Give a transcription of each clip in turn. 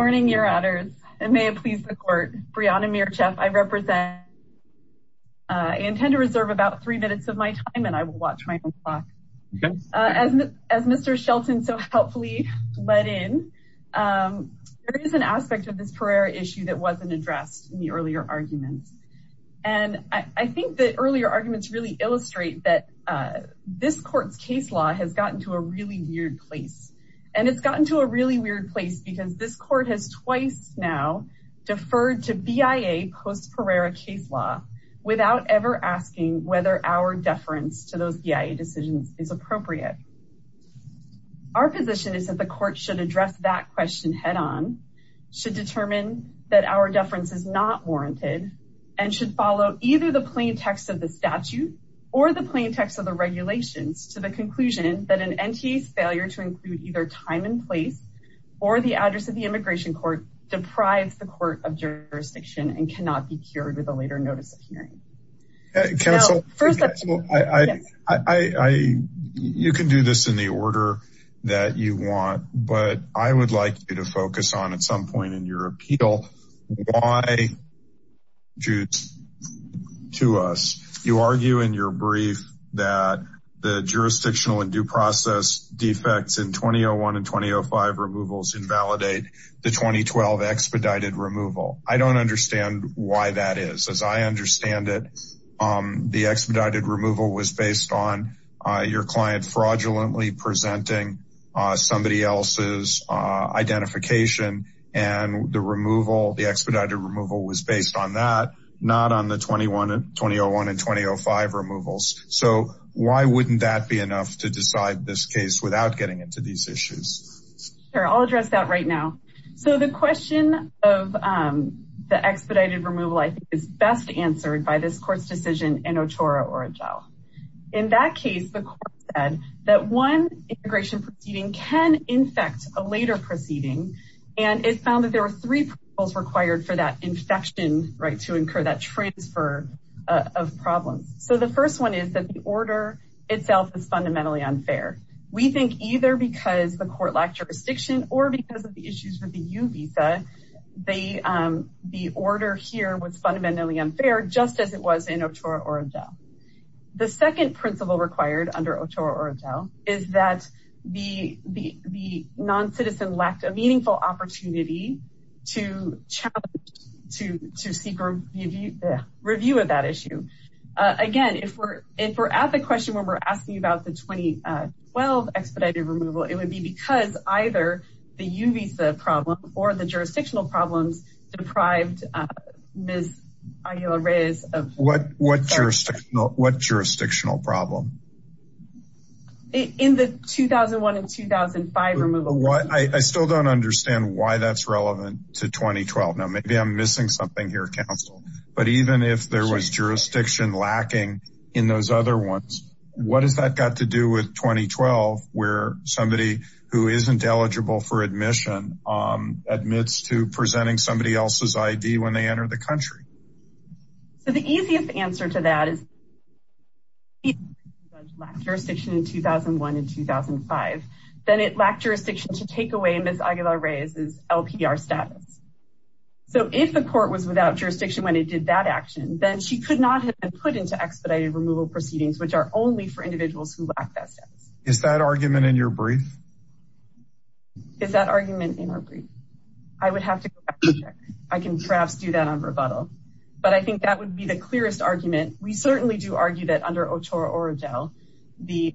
Good morning, your honors, and may it please the court, Brianna Mircheff, I intend to reserve about three minutes of my time and I will watch my own clock. As Mr. Shelton so helpfully let in, there is an aspect of this Pereira issue that wasn't addressed in the earlier arguments. And I think that earlier arguments really illustrate that this court's case law has gotten to a really weird place. And it's gotten to a really weird place because this court has twice now deferred to BIA post-Pereira case law without ever asking whether our deference to those BIA decisions is appropriate. Our position is that the court should address that question head on, should determine that our deference is not warranted, and should follow either the plain text of the statute or the plain text of the regulations to the conclusion that an NTA's failure to include either time and place or the address of the immigration court deprives the court of jurisdiction and cannot be cured with a later notice of hearing. Counsel, you can do this in the order that you want, but I would like you to focus on at some point in your appeal, why, to us. You argue in your brief that the jurisdictional and due process defects in 2001 and 2005 removals invalidate the 2012 expedited removal. I don't understand why that is. As I understand it, the expedited removal was based on your client fraudulently presenting somebody else's identification and the removal, the expedited removal was based on that, not on the 2001 and 2005 removals. So why wouldn't that be enough to decide this case without getting into these issues? Sure, I'll address that right now. So the question of the expedited removal, I think, is best answered by this court's decision in Otora or Agile. In that case, the court said that one immigration proceeding can infect a later proceeding, and it found that there were three principles required for that infection to incur that transfer of problems. So the first one is that the order itself is fundamentally unfair. We think either because the court lacked jurisdiction or because of the issues with the U visa, the order here was fundamentally unfair, just as it was in Otora or Agile. The second principle required under Otora or Agile is that the non-citizen lacked a meaningful opportunity to challenge, to seek review of that issue. Again, if we're at the question where we're asking about the 2012 expedited removal, it would be because either the U visa problem or the jurisdictional problems deprived Ms. Aguilar-Reyes of... What jurisdictional problem? In the 2001 and 2005 removal... I still don't understand why that's relevant to 2012. Now, maybe I'm missing something here, counsel, but even if there was jurisdiction lacking in those other ones, what has that got to do with 2012, where somebody who isn't eligible for admission admits to presenting somebody else's ID when they enter the country? So the easiest answer to that is... Jurisdiction in 2001 and 2005, then it lacked jurisdiction to take away Ms. Aguilar-Reyes' LPR status. So if the court was without jurisdiction when it did that action, then she could not have been put into expedited removal proceedings, which are only for individuals who lack that status. Is that argument in your brief? Is that argument in our brief? I would have to go back and check. I can perhaps do that on rebuttal, but I think that would be the clearest argument. We certainly do argue that under Ochoa Orojel, the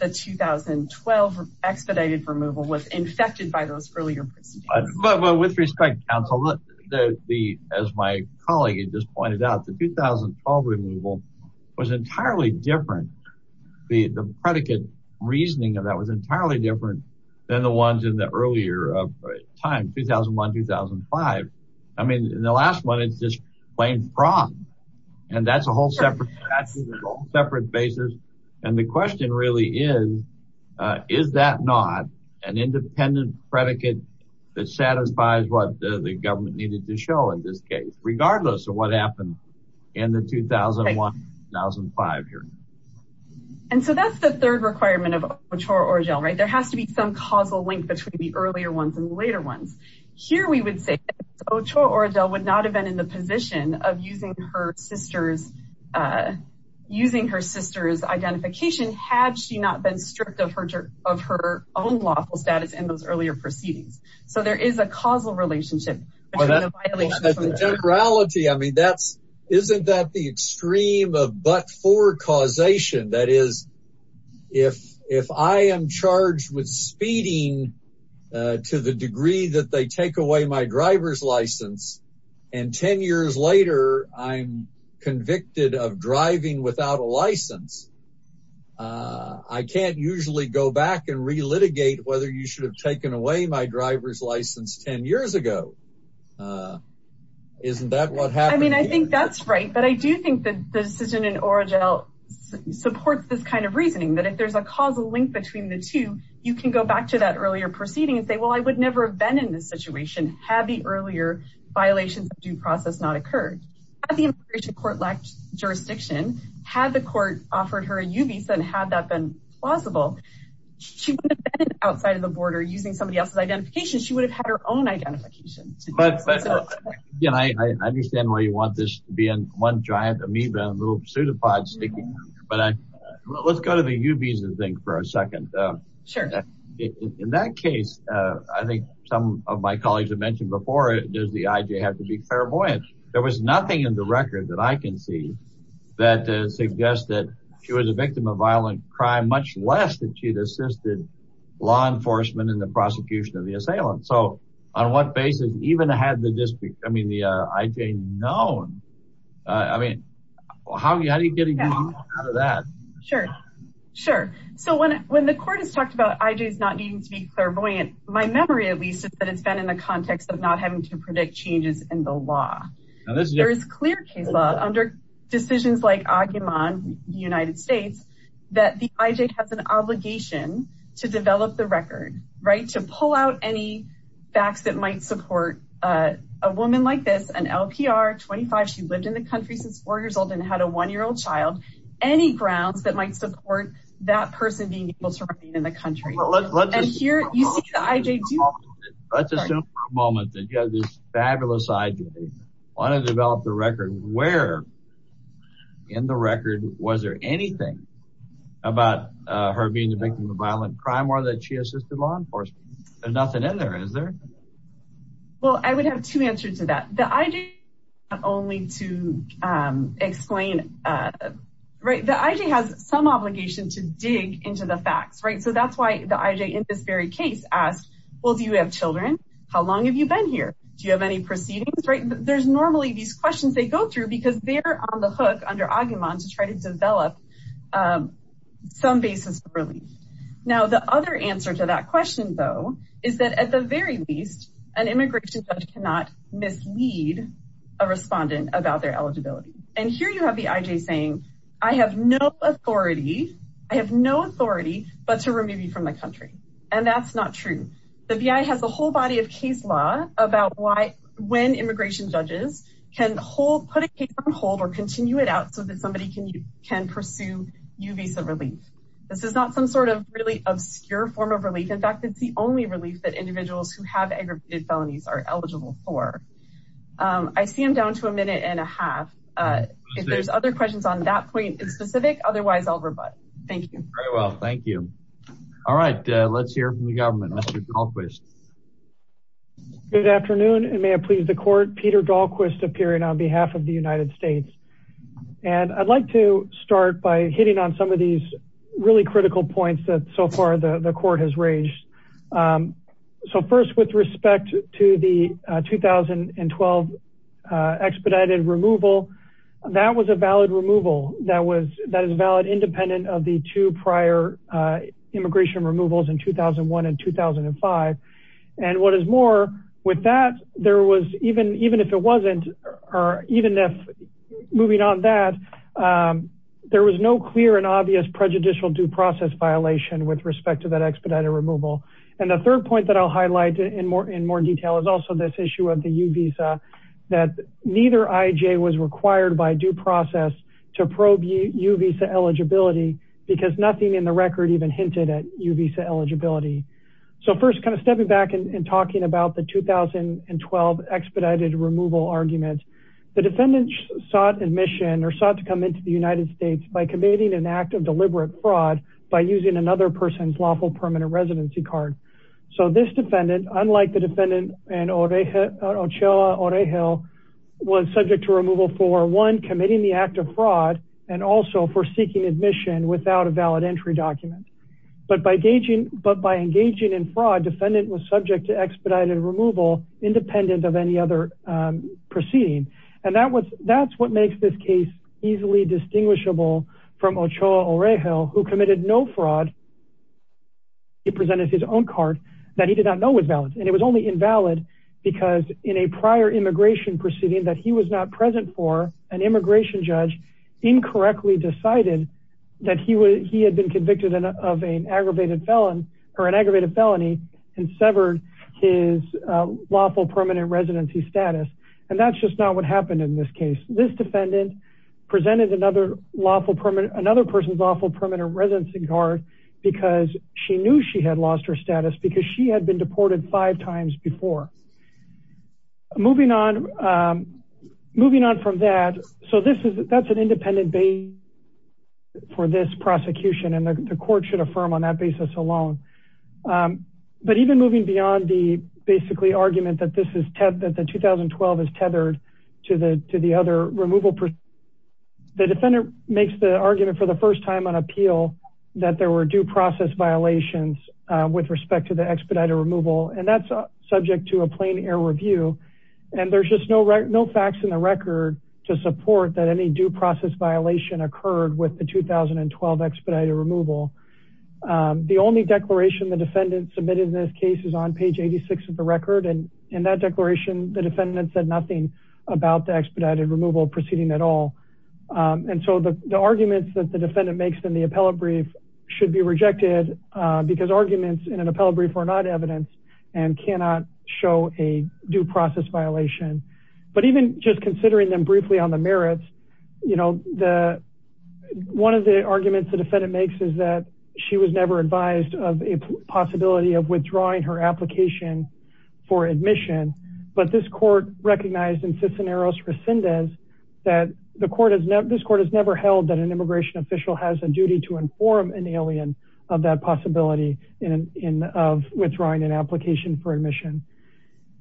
2012 expedited removal was infected by those earlier proceedings. With respect, counsel, as my colleague just pointed out, the 2012 removal was entirely different. The predicate reasoning of that was entirely different than the ones in the earlier time, 2001-2005. I mean, in the last one, it's just plain wrong. And that's a whole separate basis. And the question really is, is that not an independent predicate that satisfies what the government needed to show in this case, regardless of what happened in the 2001-2005 period? And so that's the third requirement of Ochoa Orojel, right? There has to be some causal link between the earlier ones and the later ones. Here we would say that Ochoa Orojel would not have been in the position of using her sister's identification, had she not been stripped of her own lawful status in those earlier proceedings. So there is a causal relationship between the violation of her status. Temporality, I mean, isn't that the extreme of but-for causation? That is, if I am charged with speeding to the degree that they take away my driver's license and 10 years later, I'm convicted of driving without a license, I can't usually go back and re-litigate whether you should have taken away my driver's license 10 years ago. Isn't that what happened here? I mean, I think that's right. But I do think that the decision in Orojel supports this kind of reasoning, that if there's a causal link between the two, you can go back to that earlier proceeding and say, well, I would never have been in this situation had the earlier violations of due process not occurred. Had the immigration court lacked jurisdiction, had the court offered her a UBIS and had that been plausible, she wouldn't have been outside of the border using somebody else's identification. She would have had her own identification. I understand why you want this to be one giant amoeba, a little pseudopod sticking out, but let's go to the UBIS thing for a second. In that case, I think some of my colleagues have mentioned before, does the IJ have to be clairvoyant? There was nothing in the record that I can see that suggests that she was a victim of So on what basis, even had the district, I mean, the IJ known, I mean, how do you get a good amount out of that? Sure. Sure. So when the court has talked about IJs not needing to be clairvoyant, my memory at least is that it's been in the context of not having to predict changes in the law. There is clear case law under decisions like Aguiman, the United States, that the IJ has an obligation to develop the record, right? To pull out any facts that might support a woman like this, an LPR, 25, she lived in the country since four years old and had a one-year-old child, any grounds that might support that person being able to remain in the country. And here, you see the IJ do that. Let's assume for a moment that you have this fabulous IJ, want to develop the record, where In the record, was there anything about her being a victim of violent crime or that she assisted law enforcement? There's nothing in there, is there? Well I would have two answers to that. The IJ not only to explain, right, the IJ has some obligation to dig into the facts, right? So that's why the IJ in this very case asked, well, do you have children? How long have you been here? Do you have any proceedings, right? There's normally these questions they go through because they're on the hook under Aguiman to try to develop some basis for relief. Now the other answer to that question though, is that at the very least, an immigration judge cannot mislead a respondent about their eligibility. And here you have the IJ saying, I have no authority, I have no authority, but to remove you from the country. And that's not true. The VI has a whole body of case law about when immigration judges can put a case on hold or continue it out so that somebody can pursue U visa relief. This is not some sort of really obscure form of relief. In fact, it's the only relief that individuals who have aggravated felonies are eligible for. I see I'm down to a minute and a half. If there's other questions on that point in specific, otherwise I'll rebut. Thank you. Very well. Thank you. All right. Let's hear from the government. Mr. Dahlquist. Good afternoon. And may it please the court, Peter Dahlquist appearing on behalf of the United States. And I'd like to start by hitting on some of these really critical points that so far the court has raised. So first with respect to the 2012 expedited removal, that was a valid removal. That is valid independent of the two prior immigration removals in 2001 and 2005. And what is more with that, there was even if it wasn't, or even if moving on that, there was no clear and obvious prejudicial due process violation with respect to that expedited removal. And the third point that I'll highlight in more detail is also this issue of the U visa that neither IJ was required by due process to probe U visa eligibility because nothing in the record even hinted at U visa eligibility. So first kind of stepping back and talking about the 2012 expedited removal arguments, the defendant sought admission or sought to come into the United States by committing an act of deliberate fraud by using another person's lawful permanent residency card. So this defendant, unlike the defendant and Ochoa Oregel was subject to removal for one committing the act of fraud and also for seeking admission without a valid entry document. But by engaging in fraud, defendant was subject to expedited removal independent of any other proceeding. And that's what makes this case easily distinguishable from Ochoa Oregel who committed no fraud. He presented his own card that he did not know was valid. And it was only invalid because in a prior immigration proceeding that he was not present for, an immigration judge incorrectly decided that he had been convicted of an aggravated felony and severed his lawful permanent residency status. And that's just not what happened in this case. This defendant presented another lawful permanent, another person's lawful permanent residency card because she knew she had lost her status because she had been deported five times before. Moving on, moving on from that. So this is, that's an independent base for this prosecution and the court should affirm on that basis alone. But even moving beyond the basically argument that this is, that the 2012 is tethered to the other removal, the defendant makes the argument for the first time on appeal that there were due process violations with respect to the expedited removal. And that's subject to a plain air review. And there's just no facts in the record to support that any due process violation occurred with the 2012 expedited removal. The only declaration the defendant submitted in this case is on page 86 of the record. And in that declaration, the defendant said nothing about the expedited removal proceeding at all. And so the arguments that the defendant makes in the appellate brief should be rejected because arguments in an appellate brief are not evidenced and cannot show a due process violation. But even just considering them briefly on the merits, you know, the, one of the arguments the defendant makes is that she was never advised of a possibility of withdrawing her application for admission. But this court recognized in Cisneros Rescindes that the court has never, this court has never held that an immigration official has a duty to inform an alien of that possibility of withdrawing an application for admission.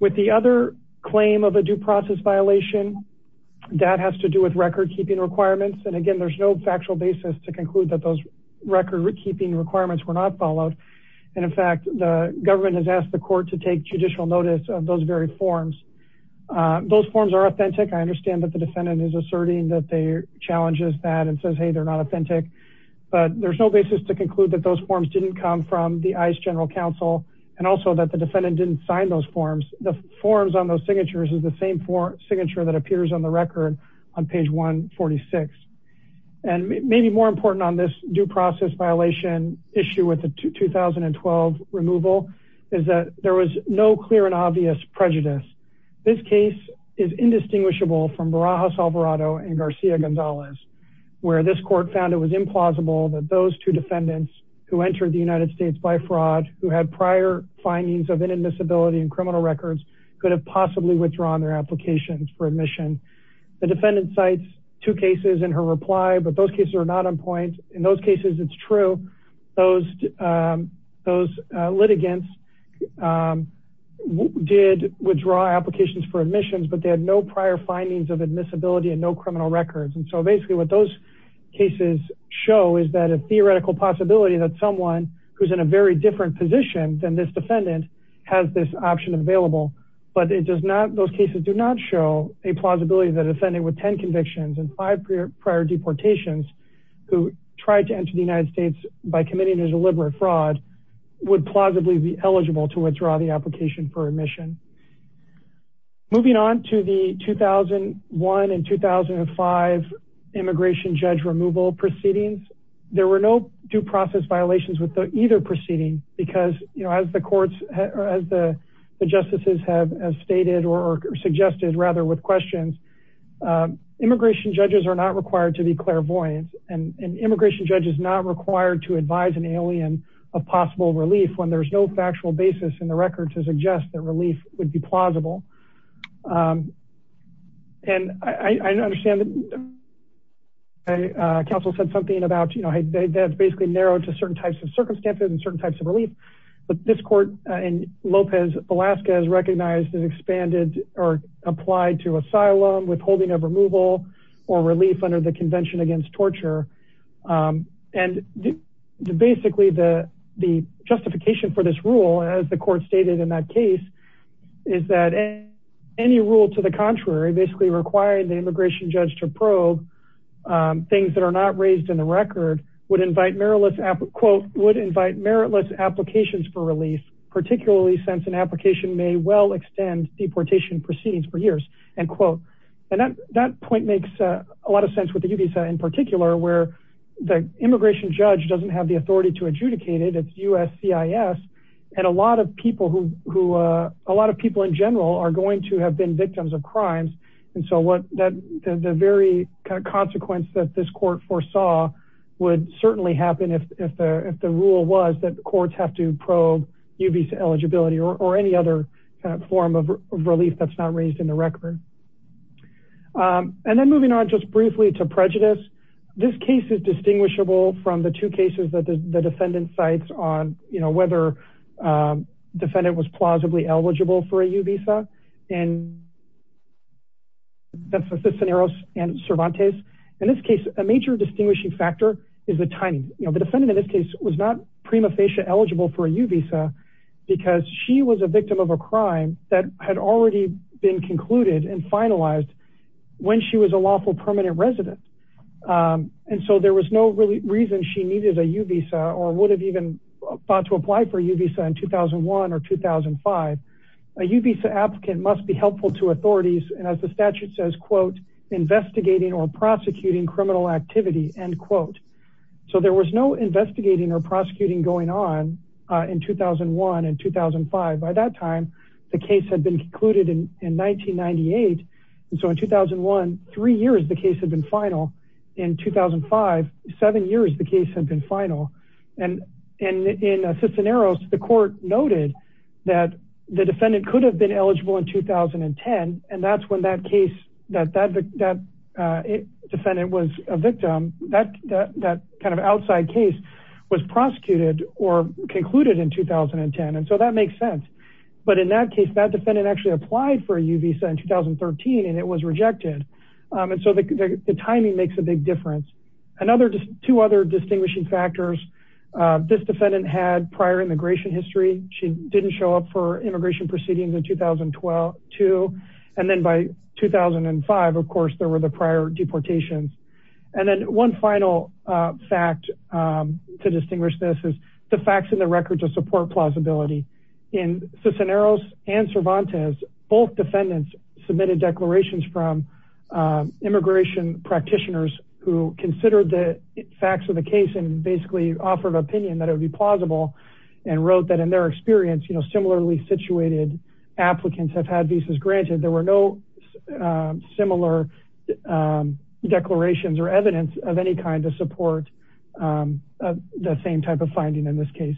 With the other claim of a due process violation, that has to do with record keeping requirements. And again, there's no factual basis to conclude that those record keeping requirements were not followed. And in fact, the government has asked the court to take judicial notice of those very forms. Those forms are authentic. I understand that the defendant is asserting that they challenges that and says, Hey, they're not authentic, but there's no basis to conclude that those forms didn't come from the ICE general counsel. And also that the defendant didn't sign those forms. The forms on those signatures is the same for signature that appears on the record on page 146. And maybe more important on this due process violation issue with the 2012 removal is that there was no clear and obvious prejudice. This case is indistinguishable from Barajas Alvarado and Garcia Gonzalez, where this court found it was implausible that those two defendants who entered the United States by fraud who had prior findings of inadmissibility and criminal records could have possibly withdrawn their applications for admission. The defendant sites two cases in her reply, but those cases are not on point in those cases. It's true. Those those litigants did withdraw applications for admissions, but they had no prior findings of admissibility and no criminal records. And so basically what those cases show is that a theoretical possibility that someone who's in a very different position than this defendant has this option available, but it is a possibility that a defendant with 10 convictions and five prior deportations who tried to enter the United States by committing a deliberate fraud would plausibly be eligible to withdraw the application for admission. Moving on to the 2001 and 2005 immigration judge removal proceedings, there were no due process violations with either proceeding because, you know, as the courts or as the immigration judges are not required to be clairvoyant and an immigration judge is not required to advise an alien of possible relief when there's no factual basis in the record to suggest that relief would be plausible. And I understand that counsel said something about, you know, that's basically narrowed to certain types of circumstances and certain types of relief. But this court in Lopez, Alaska is recognized as expanded or applied to asylum withholding of removal or relief under the convention against torture. And basically the justification for this rule, as the court stated in that case, is that any rule to the contrary basically required the immigration judge to probe things that were not raised in the record would invite meritless, quote, would invite meritless applications for relief, particularly since an application may well extend deportation proceedings for years, end quote. And that point makes a lot of sense with the UBISA in particular, where the immigration judge doesn't have the authority to adjudicate it, it's USCIS, and a lot of people who, a lot of people in general are going to have been victims of crimes. And so the very consequence that this court foresaw would certainly happen if the rule was that courts have to probe UBISA eligibility or any other form of relief that's not raised in the record. And then moving on just briefly to prejudice, this case is distinguishable from the two cases that the defendant cites on, you know, whether defendant was plausibly eligible for that's the Cisneros and Cervantes, in this case, a major distinguishing factor is the timing. You know, the defendant in this case was not prima facie eligible for a UBISA because she was a victim of a crime that had already been concluded and finalized when she was a lawful permanent resident. And so there was no really reason she needed a UBISA or would have even thought to apply for UBISA in 2001 or 2005. A UBISA applicant must be helpful to authorities and as the statute says, quote, investigating or prosecuting criminal activity, end quote. So there was no investigating or prosecuting going on in 2001 and 2005. By that time, the case had been concluded in 1998. And so in 2001, three years, the case had been final. In 2005, seven years, the case had been final. And in Cisneros, the court noted that the defendant could have been eligible in 2010. And that's when that case, that defendant was a victim, that kind of outside case was prosecuted or concluded in 2010. And so that makes sense. But in that case, that defendant actually applied for a UBISA in 2013 and it was rejected. And so the timing makes a big difference. Another, two other distinguishing factors, this defendant had prior immigration history. She didn't show up for immigration proceedings in 2002. And then by 2005, of course, there were the prior deportations. And then one final fact to distinguish this is the facts in the record to support plausibility. In Cisneros and Cervantes, both defendants submitted declarations from immigration practitioners who considered the facts of the case and basically offered an opinion that it would be plausible and wrote that in their experience, you know, similarly situated applicants have had visas granted. There were no similar declarations or evidence of any kind to support the same type of finding in this case.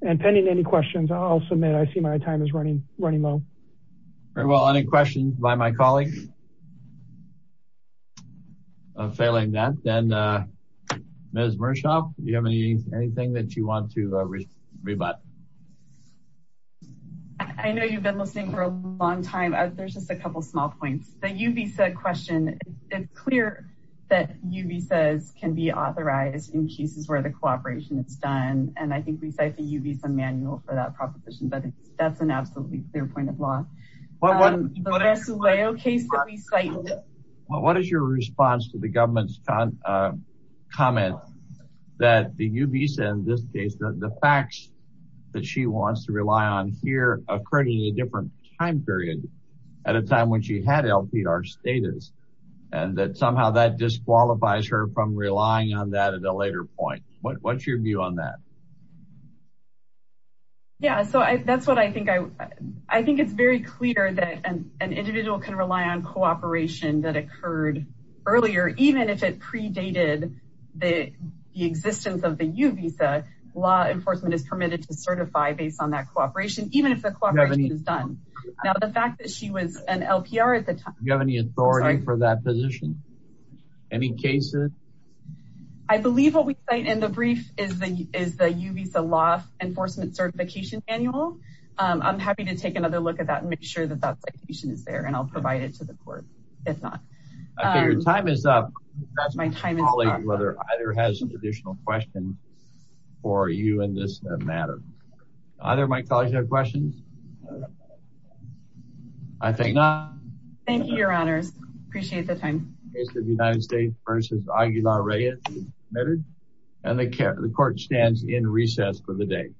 And pending any questions, I'll submit. I see my time is running low. Very well. Any questions by my colleagues? I'm failing that. And Ms. Mershoff, do you have any, anything that you want to rebut? I know you've been listening for a long time. There's just a couple of small points. The UBISA question, it's clear that UBISAs can be authorized in cases where the cooperation is done. And I think we cite the UBISA manual for that proposition, but that's an absolutely clear point of law. What is your response to the government's comment that the UBISA in this case, the facts that she wants to rely on here occurred in a different time period at a time when she had LPR status and that somehow that disqualifies her from relying on that at a later point. What's your view on that? Yeah. So that's what I think. I think it's very clear that an individual can rely on cooperation that occurred earlier, even if it predated the existence of the UBISA, law enforcement is permitted to certify based on that cooperation, even if the cooperation is done. Now, the fact that she was an LPR at the time. Do you have any authority for that position? Any cases? I believe what we cite in the brief is the UBISA law enforcement certification manual. I'm happy to take another look at that and make sure that that citation is there and I'll provide it to the court. If not, I figure time is up. That's my time is up. Whether either has an additional question for you in this matter. Either of my colleagues have questions? I think not. Thank you, your honors. Appreciate the time. The United States v. Aguilar-Reyes is admitted and the court stands in recess for the day.